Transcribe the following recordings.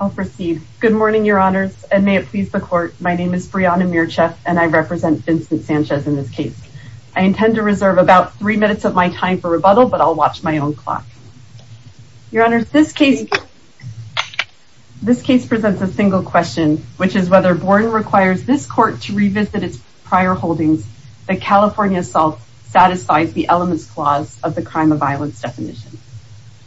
I'll proceed. Good morning, your honors, and may it please the court. My name is Brianna Mircheff and I represent Vincent Sanchez in this case. I intend to reserve about three minutes of my time for rebuttal, but I'll watch my own clock. Your honors, this case presents a single question, which is whether Borden requires this court to revisit its prior holdings, the California assault satisfies the elements clause of the crime of violence definition.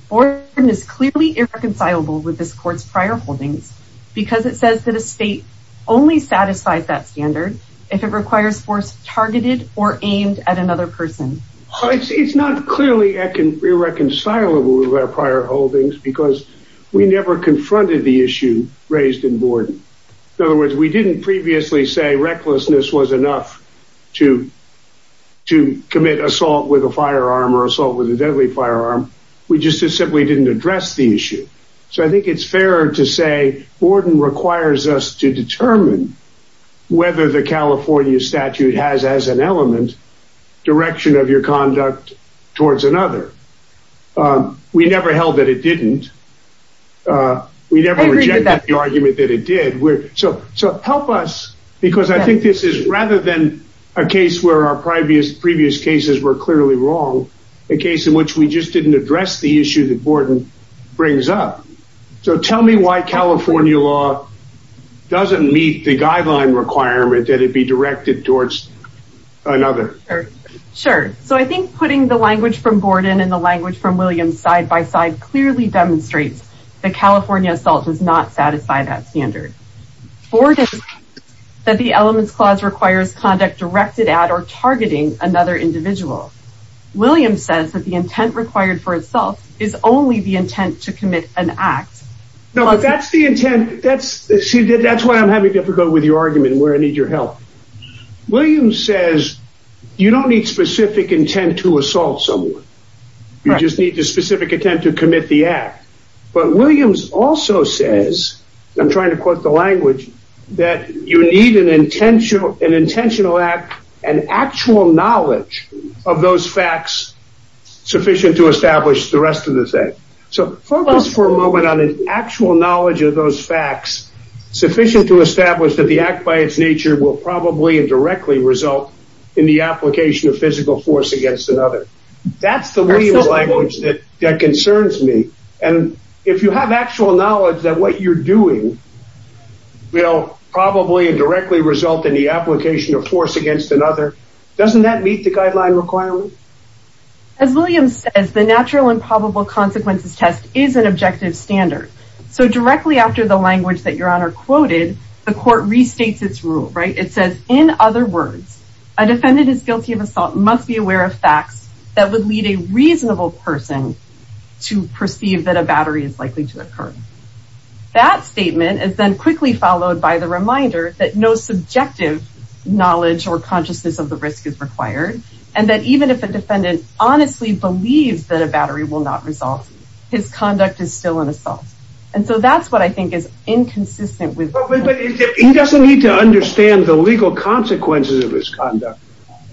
Borden is clearly irreconcilable with this court's prior holdings, because it says that a state only satisfies that standard if it requires force targeted or aimed at We never confronted the issue raised in Borden. In other words, we didn't previously say recklessness was enough to to commit assault with a firearm or assault with a deadly firearm. We just simply didn't address the issue. So I think it's fair to say Borden requires us to determine whether the California statute has as an element, direction of your conduct towards another. We never held that it didn't. We never rejected the argument that it did. So help us because I think this is rather than a case where our previous cases were clearly wrong, a case in which we just didn't address the issue that Borden brings up. So tell me why California law doesn't meet the guideline requirement that it be directed towards another. Sure. So I think putting the definition in the language from Williams side by side clearly demonstrates that California assault does not satisfy that standard. Borden says that the elements clause requires conduct directed at or targeting another individual. Williams says that the intent required for assault is only the intent to commit an act. No, that's the intent. That's see that that's why I'm having difficulty with your argument where I need your help. Williams says you don't need specific intent to assault someone. You just need the specific attempt to commit the act. But Williams also says, I'm trying to quote the language, that you need an intentional act and actual knowledge of those facts sufficient to establish the rest of the thing. So focus for a moment on an actual knowledge of those facts sufficient to establish that the act by its nature will probably and directly result in the application of physical force against another. That's the language that concerns me. And if you have actual knowledge that what you're doing will probably and directly result in the application of force against another, doesn't that meet the guideline requirement? As Williams says, the natural and probable consequences test is an objective standard. So directly after the language that your honor quoted, the court restates its rule, right? It says, in other words, a defendant is must be aware of facts that would lead a reasonable person to perceive that a battery is likely to occur. That statement is then quickly followed by the reminder that no subjective knowledge or consciousness of the risk is required. And that even if a defendant honestly believes that a battery will not result, his conduct is still an assault. And so that's what I think is inconsistent He doesn't need to understand the legal consequences of his conduct.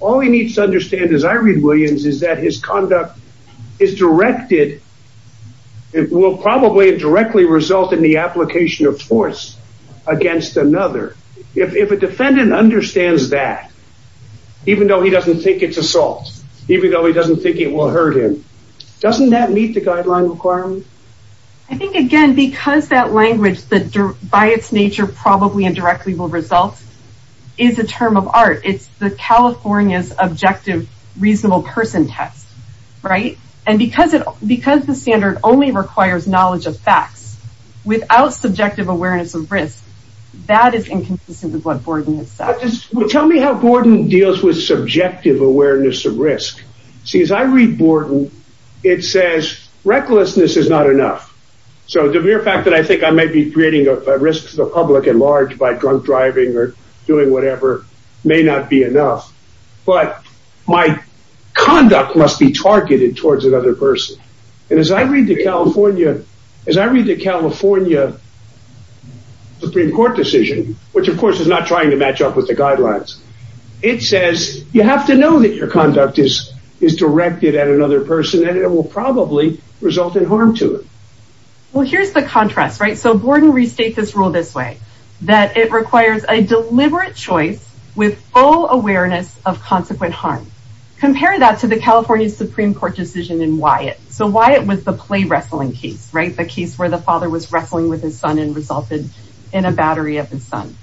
All he needs to understand as I read Williams is that his conduct is directed, it will probably and directly result in the application of force against another. If a defendant understands that, even though he doesn't think it's assault, even though he doesn't think it will hurt him, doesn't that meet the probably and directly will result is a term of art. It's the California's objective reasonable person test, right? And because it becomes the standard only requires knowledge of facts, without subjective awareness of risk, that is inconsistent with what Borden has said. Tell me how Borden deals with subjective awareness of risk. See, as I read Borden, it says recklessness is not enough. So the mere fact that I think I may be creating a risk to public at large by drunk driving or doing whatever may not be enough. But my conduct must be targeted towards another person. And as I read the California, as I read the California Supreme Court decision, which of course is not trying to match up with the guidelines, it says you have to know that your conduct is is directed at another person and it will probably result in harm to it. Well, here's the contrast, right? So Borden restate this rule this way, that it requires a deliberate choice with full awareness of consequent harm. Compare that to the California Supreme Court decision in Wyatt. So why it was the play wrestling case, right? The case where the father was wrestling with his son and resulted in a battery of his son.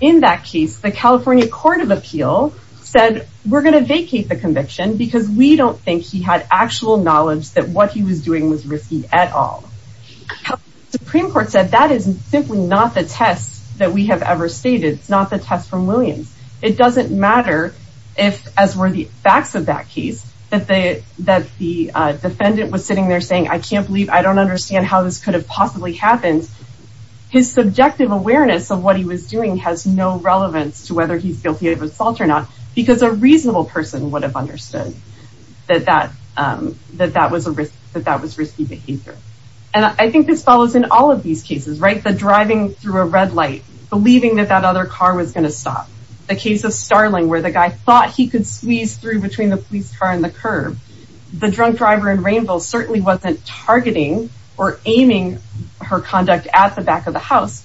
In that case, the California Court of Appeal said, we're going to vacate the conviction because we don't think he had actual knowledge that what he was doing was risky at all. Supreme Court said that is simply not the test that we have ever stated. It's not the test from Williams. It doesn't matter if as were the facts of that case, that the defendant was sitting there saying, I can't believe I don't understand how this could have possibly happened. His subjective awareness of what he was doing has no relevance to whether he's guilty of assault or not, because a reasonable person would have understood that that was a risk, that that was risky behavior. And I think this follows in all of these cases, right? The driving through a red light, believing that that other car was going to stop. The case of Starling where the guy thought he could squeeze through between the police car and the curb. The drunk driver in rainbows certainly wasn't targeting or aiming her conduct at the back of the house.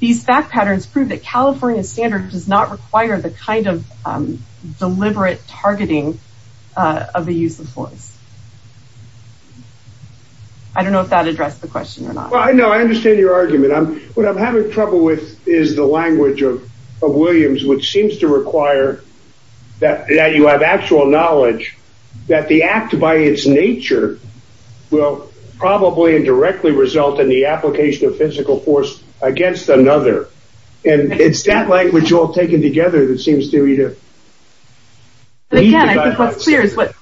These fact patterns prove that California standard does not require the kind of deliberate targeting of the use of force. I don't know if that addressed the question or not. Well, I know I understand your argument. What I'm having trouble with is the language of Williams, which seems to require that you have actual knowledge that the act by its nature will probably indirectly result in application of physical force against another. And it's that language all taken together that seems to me to clear is what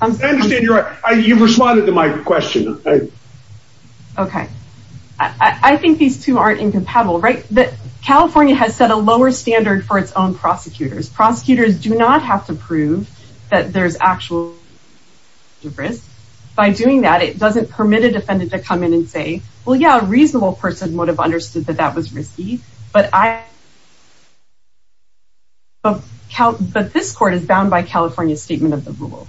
I understand. You're right. You've responded to my question. Okay. I think these two aren't incompatible, right? But California has set a lower standard for its own prosecutors. Prosecutors do not have to prove that there's actual risk. By doing that, it doesn't permit a defendant to come in and say, well, yeah, a reasonable person would have understood that that was risky. But this court is bound by California's statement of the rule.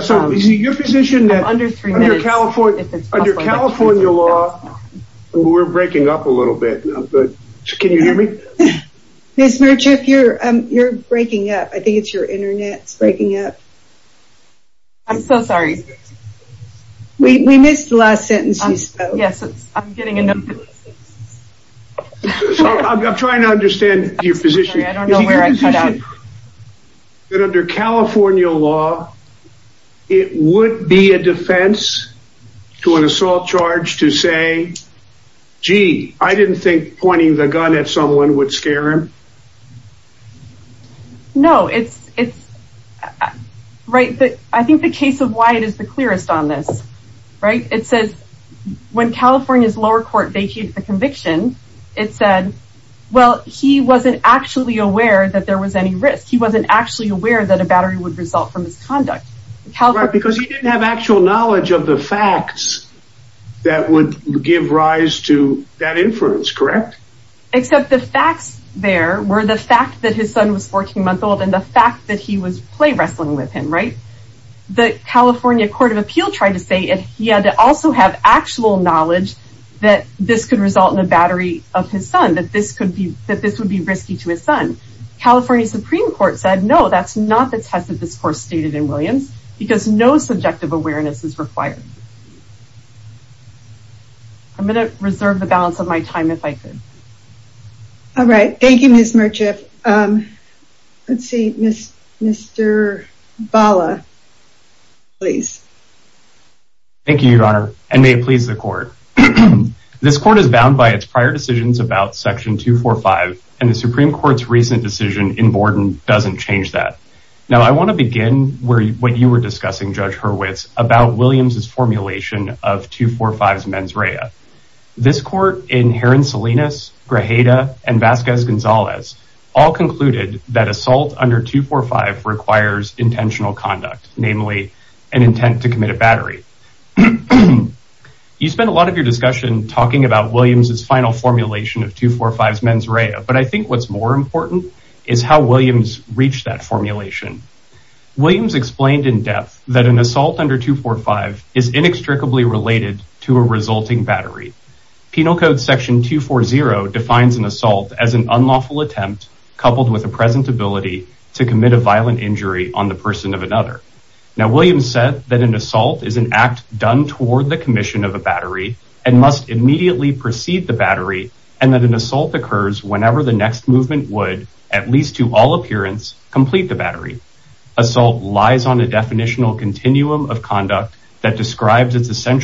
So is it your position that under California law, we're breaking up a little bit. Can you hear me? Ms. Merchick, you're breaking up. I think it's your internet's breaking up. I'm so sorry. We missed the last sentence. Yes, I'm getting a note. I'm trying to understand your position. I don't know where I cut out. But under California law, it would be a defense to an assault charge to say, gee, I didn't think pointing the gun at someone would scare him. No. I think the case of Wyatt is the clearest on this. It says when California's lower court vacated the conviction, it said, well, he wasn't actually aware that there was any risk. He wasn't actually aware that a battery would result from misconduct. Because he didn't have actual knowledge of the fact that his son was 14 months old and the fact that he was play wrestling with him. The California Court of Appeal tried to say he had to also have actual knowledge that this could result in a battery of his son, that this would be risky to his son. California Supreme Court said, no, that's not the test that this court stated in Williams, because no subjective awareness is required. I'm going to reserve the balance of my time if I could. All right. Thank you, Ms. Murchiff. Let's see. Mr. Bala, please. Thank you, Your Honor, and may it please the court. This court is bound by its prior decisions about Section 245, and the Supreme Court's recent decision in Borden doesn't change that. Now, I want to begin what you were discussing, Judge Hurwitz, about Williams's formulation of 245's mens rea. This court in Heron-Salinas, Grajeda, and Vasquez-Gonzalez all concluded that assault under 245 requires intentional conduct, namely an intent to commit a battery. You spent a lot of your discussion talking about Williams's final formulation of 245's mens rea, but I think what's more important is how Williams reached that formulation. Williams explained in to a resulting battery. Penal Code Section 240 defines an assault as an unlawful attempt coupled with a present ability to commit a violent injury on the person of another. Now, Williams said that an assault is an act done toward the commission of a battery and must immediately precede the battery, and that an assault occurs whenever the next movement would, at least to all appearance, complete the battery. Assault lies on a definitional continuum of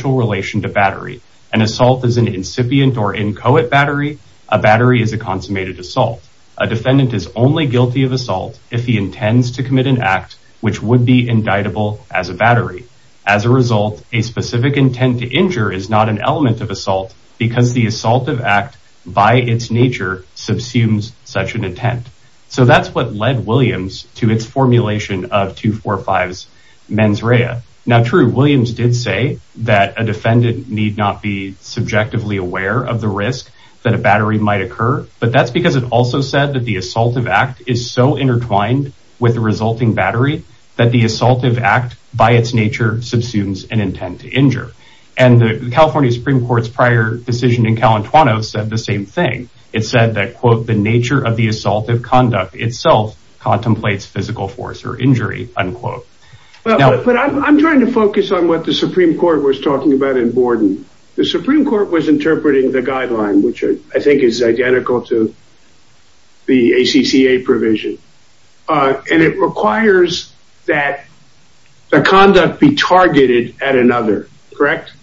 relation to battery. An assault is an incipient or inchoate battery. A battery is a consummated assault. A defendant is only guilty of assault if he intends to commit an act which would be indictable as a battery. As a result, a specific intent to injure is not an element of assault because the assaultive act by its nature subsumes such an intent. So, that's what led Williams to its formulation of 245's mens rea. Now, true, Williams did say that a defendant need not be subjectively aware of the risk that a battery might occur, but that's because it also said that the assaultive act is so intertwined with the resulting battery that the assaultive act, by its nature, subsumes an intent to injure. And the California Supreme Court's prior decision in Calentwano said the same thing. It said that, quote, the nature of the assaultive conduct itself contemplates physical force or injury, unquote. But I'm trying to focus on what the Supreme Court was talking about in Borden. The Supreme Court was interpreting the guideline, which I think is identical to the ACCA provision. And it requires that the conduct be targeted at another, correct?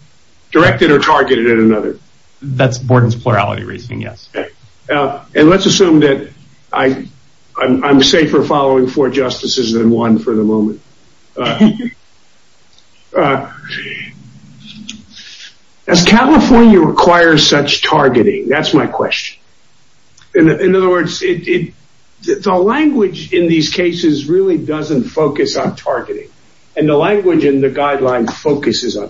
Directed or targeted at another. That's Borden's plurality reasoning, yes. And let's assume that I'm safer following four justices than one for the moment. Does California require such targeting? That's my question. In other words, the language in these cases really doesn't focus on targeting. And the language in the guideline focuses on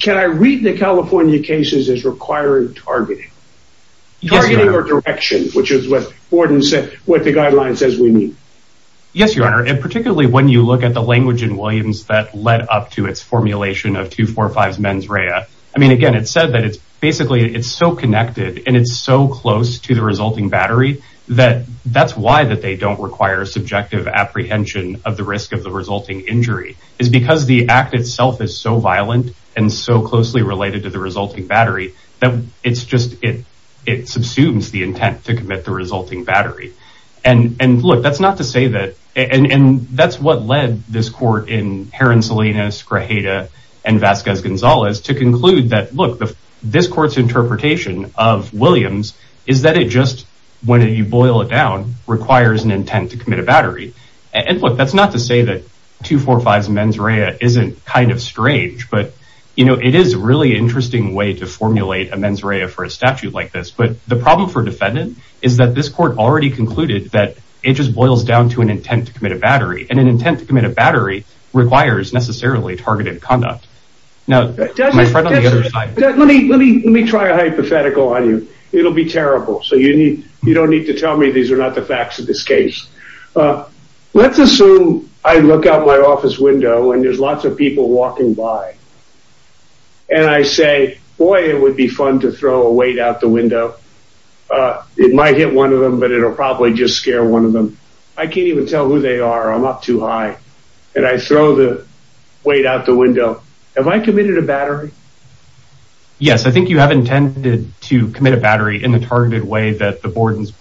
can I read the California cases as requiring targeting or direction, which is what Borden said, what the guideline says we need. Yes, your honor. And particularly when you look at the language in Williams that led up to its formulation of 245 mens rea. I mean, again, it said that it's basically, it's so connected and it's so close to the resulting battery that that's why that they don't require subjective apprehension of the risk of the resulting injury is because the act itself is so violent and so closely related to the resulting battery that it's just, it, it subsumes the intent to commit the resulting battery. And, and look, that's not to say that, and that's what led this court in Heron Salinas, Grajeda and Vasquez Gonzalez to conclude that, look, this court's interpretation of Williams is that it just, when you boil it down, requires an intent to commit a battery. And look, that's not to say that 245 mens rea isn't kind of strange, but you know, it is really interesting way to formulate a mens rea for a statute like this. But the problem for defendant is that this court already concluded that it just boils down to an intent to commit a battery and an intent to commit a battery requires necessarily targeted conduct. Now, let me, let me, let me try a hypothetical on you. It'll be terrible. So you need, you don't need to tell me these are not the facts of this case. Let's assume I look out my office window and there's lots of people walking by. And I say, boy, it would be fun to throw a weight out the window. It might hit one of them, but it'll probably just scare one of them. I can't even tell who they are. I'm up too high. And I throw the weight out the window. Have I committed a battery? Yes, I think you have intended to commit a battery in the targeted way that the Borden's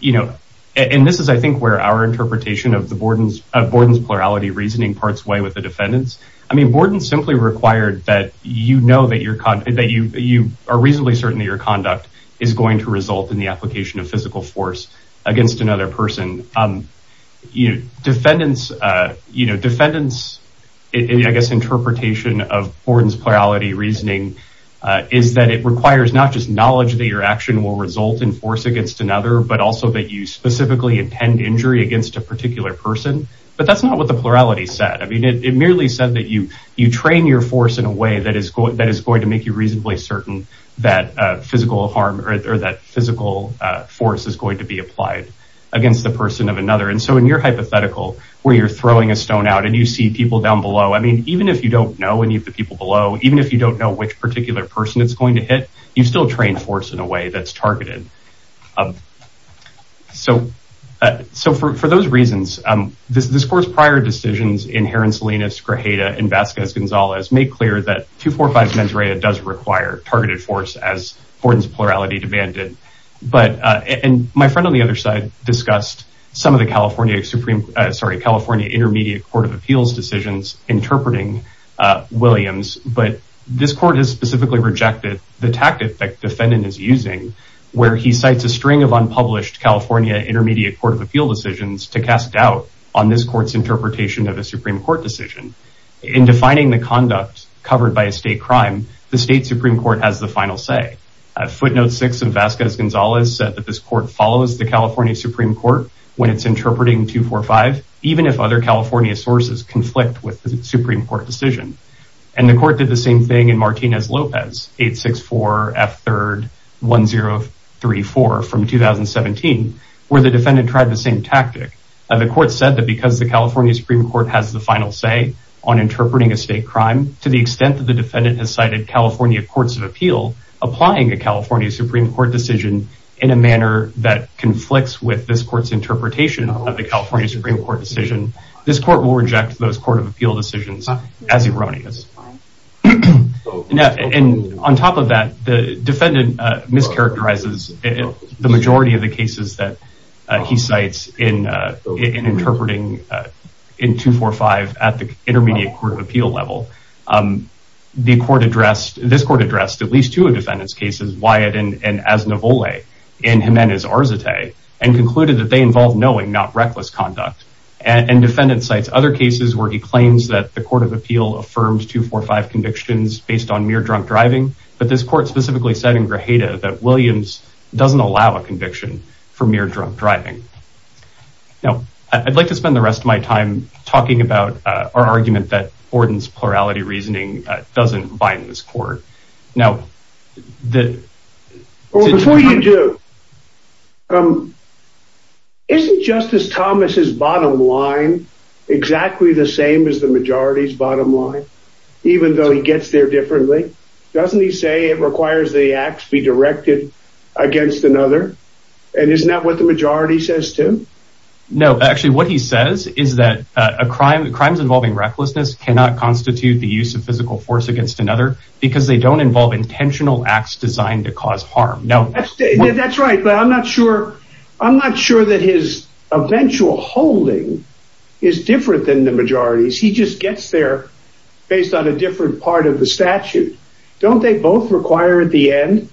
you know, and this is, I think where our interpretation of the Borden's of Borden's plurality reasoning parts way with the defendants. I mean, Borden simply required that, you know, that your con that you, you are reasonably certain that your conduct is going to result in the application of physical force against another person. You know, defendants you know, defendants, I guess, interpretation of Borden's plurality reasoning is that it requires not just against another, but also that you specifically intend injury against a particular person. But that's not what the plurality said. I mean, it merely said that you, you train your force in a way that is that is going to make you reasonably certain that physical harm or that physical force is going to be applied against the person of another. And so in your hypothetical, where you're throwing a stone out and you see people down below, I mean, even if you don't know any of the people below, even if you don't know which particular person it's going to hit, you still train force in a way that's targeted. So, so for, for those reasons, this course prior decisions in Heron Salinas, Grajeda and Vasquez Gonzalez made clear that 245 mens rea does require targeted force as Borden's plurality demanded. But, and my friend on the other side discussed some of the California Supreme, sorry, California Intermediate Court of the tactic that defendant is using, where he cites a string of unpublished California Intermediate Court of Appeal decisions to cast doubt on this court's interpretation of a Supreme Court decision in defining the conduct covered by a state crime. The state Supreme Court has the final say a footnote six of Vasquez Gonzalez said that this court follows the California Supreme Court when it's interpreting 245, even if other California sources conflict with the 864 F 3rd 1034 from 2017, where the defendant tried the same tactic. And the court said that because the California Supreme Court has the final say on interpreting a state crime, to the extent that the defendant has cited California courts of appeal, applying a California Supreme Court decision in a manner that conflicts with this court's interpretation of the California Supreme Court decision. This court will reject those court of appeal decisions as erroneous. And on top of that, the defendant mischaracterizes the majority of the cases that he cites in interpreting in 245 at the Intermediate Court of Appeal level. The court addressed, this court addressed at least two of defendant's cases, Wyatt and Aznavole in Jimenez Arzate, and concluded that they involve knowing not reckless conduct. And defendant cites other cases where he claims that the court of appeal affirms 245 convictions based on mere drunk driving. But this court specifically said in Grajeda that Williams doesn't allow a conviction for mere drunk driving. Now, I'd like to spend the rest of my time talking about our argument that Borden's plurality reasoning doesn't bind this court. Now that Well, before you do, isn't Justice Thomas's bottom line exactly the same as the majority's bottom line, even though he gets there differently? Doesn't he say it requires the acts be directed against another? And isn't that what the majority says, too? No, actually, what he says is that crimes involving recklessness cannot constitute the use of physical force against another because they don't involve intentional acts designed to cause harm. No, that's right, but I'm not sure. I'm not sure that his eventual holding is different than the majority's. He just gets there based on a different part of the statute. Don't they both require at the end,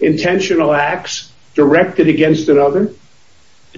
intentional acts directed against another?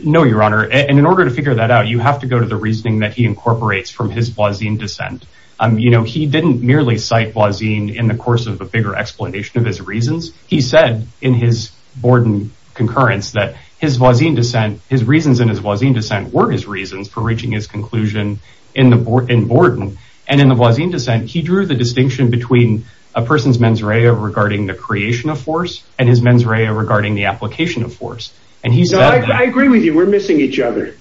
No, your honor. And in order to figure that out, you have to go to the reasoning that he incorporates from his Blasin descent. You know, he didn't merely cite Blasin in the course of a bigger explanation of his reasons. He said in his Borden concurrence that his Blasin descent, his reasons in his Blasin descent were his reasons for reaching his conclusion in Borden. And in the Blasin descent, he drew the distinction between a person's mens rea regarding the creation of force and his mens rea regarding the application of force. And he said, I agree with you, we're missing each other.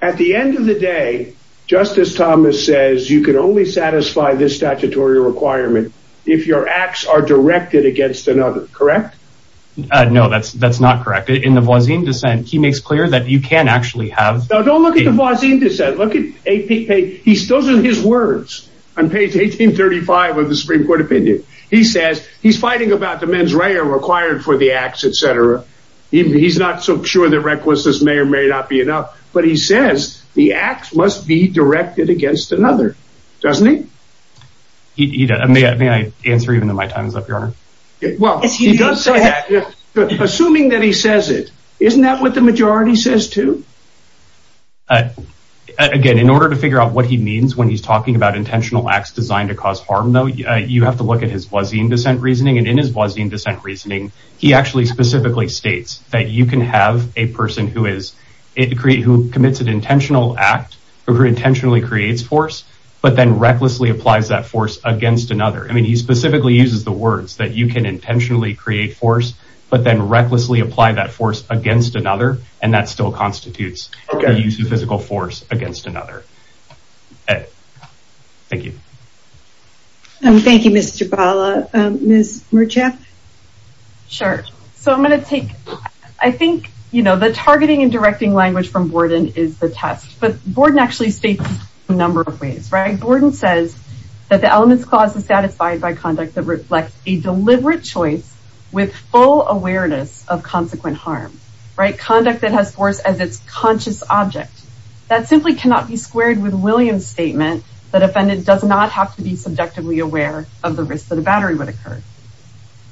At the end of the day, Justice Thomas says you can only satisfy this statutory requirement if your acts are directed against another. Correct? No, that's that's not correct. In the Blasin descent, he makes clear that you can actually have. Don't look at the Blasin descent. Look at AP. Those are his words on page 1835 of the Supreme Court opinion. He says he's fighting about the mens rea required for the acts, et cetera. He's not so sure that recklessness may or may not be enough. But he says the acts must be directed against another, doesn't he? I mean, I answer even though my time is up. Well, assuming that he says it, isn't that what the majority says, too? Again, in order to figure out what he means when he's talking about intentional acts designed to cause harm, though, you have to look at his Blasin descent reasoning. And in his Blasin descent reasoning, he actually specifically states that you can have a person who is who commits an intentional act or who intentionally creates force, but then recklessly applies that force against another. I mean, he specifically uses the words that you can intentionally create force, but then recklessly apply that force against another. And that still constitutes the use of physical force against another. Thank you. Thank you, Mr. Bala, Ms. Merchef. Sure. So I'm going to take, I think, you know, targeting and directing language from Borden is the test. But Borden actually states a number of ways, right? Borden says that the elements clause is satisfied by conduct that reflects a deliberate choice with full awareness of consequent harm, right? Conduct that has force as its conscious object. That simply cannot be squared with Williams' statement that a defendant does not have to be subjectively aware of the risk that a battery would occur.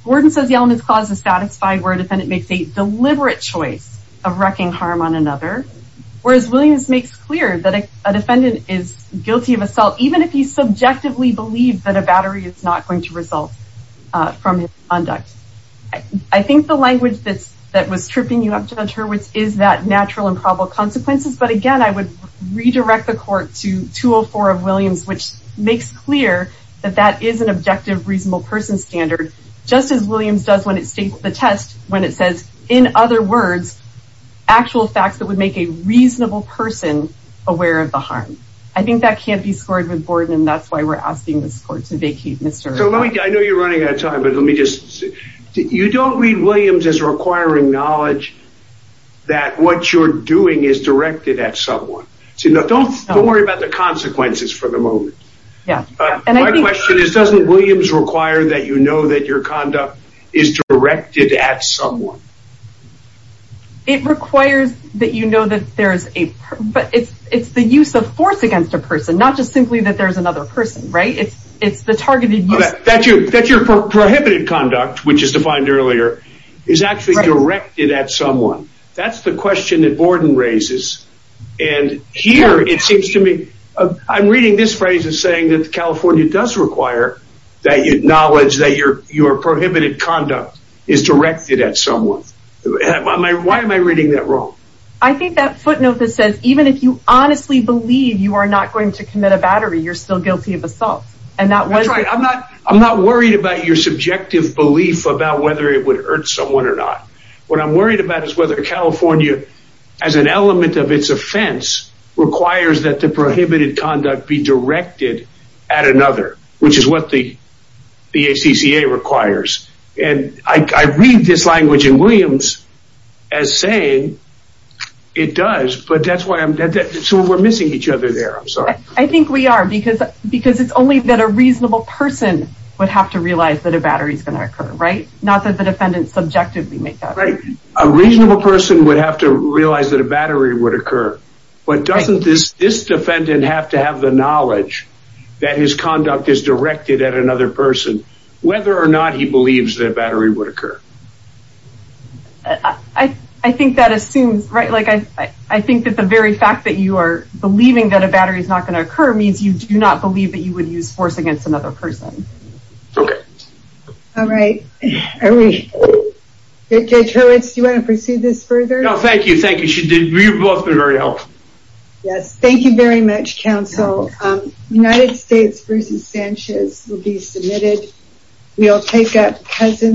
Borden says the elements clause is satisfied where a defendant makes a deliberate choice of wrecking harm on another. Whereas Williams makes clear that a defendant is guilty of assault, even if you subjectively believe that a battery is not going to result from his conduct. I think the language that's, that was tripping you up, Judge Hurwitz, is that natural and probable consequences. But again, I would redirect the court to 204 of Williams, which makes clear that that is an objective, reasonable person standard, just as Williams does when it states the test, when it says, in other words, actual facts that would make a reasonable person aware of the harm. I think that can't be scored with Borden, and that's why we're asking this court to vacate Mr. Hurwitz. I know you're running out of time, but let me just, you don't read Williams as requiring knowledge that what you're doing is directed at someone. Don't worry about the consequences for the moment. Yeah. My question is, doesn't Williams require that you know that your conduct is directed at someone? It requires that you know that there's a, but it's the use of force against a person, not just simply that there's another person, right? It's the targeted use. That your prohibited conduct, which is defined earlier, is actually directed at someone. That's the question that Borden raises, and here, it seems to me, I'm reading this phrase as saying that California does require that you acknowledge that your prohibited conduct is directed at someone. Why am I reading that wrong? I think that footnote that says, even if you honestly believe you are not going to commit a battery, you're still guilty of assault. That's right. I'm not worried about your subjective belief about whether it would hurt someone or not. What I'm worried about is whether California, as an element of its offense, requires that the prohibited conduct be directed at another, which is what the ACCA requires. And I read this language in Williams as saying it does, but that's why I'm, so we're missing each other there. I'm sorry. I think we are, because it's only that a reasonable person would have to realize that a battery is going to occur, right? Not that the defendant subjectively makes that. Right. A reasonable person would have to realize that a battery would occur, but doesn't this defendant have to have the knowledge that his conduct is directed at another person, whether or not he believes that a battery would occur? I think that assumes, right, like I think that the very fact that you are believing that a battery is not going to occur means you do not believe that you would use force against another person. Okay. All right. Are we, Judge Hurwitz, do you want to proceed this further? No, thank you. Thank you. You've both been very helpful. Yes. Thank you very much, counsel. United States versus Sanchez will be submitted. We'll take up Cousins.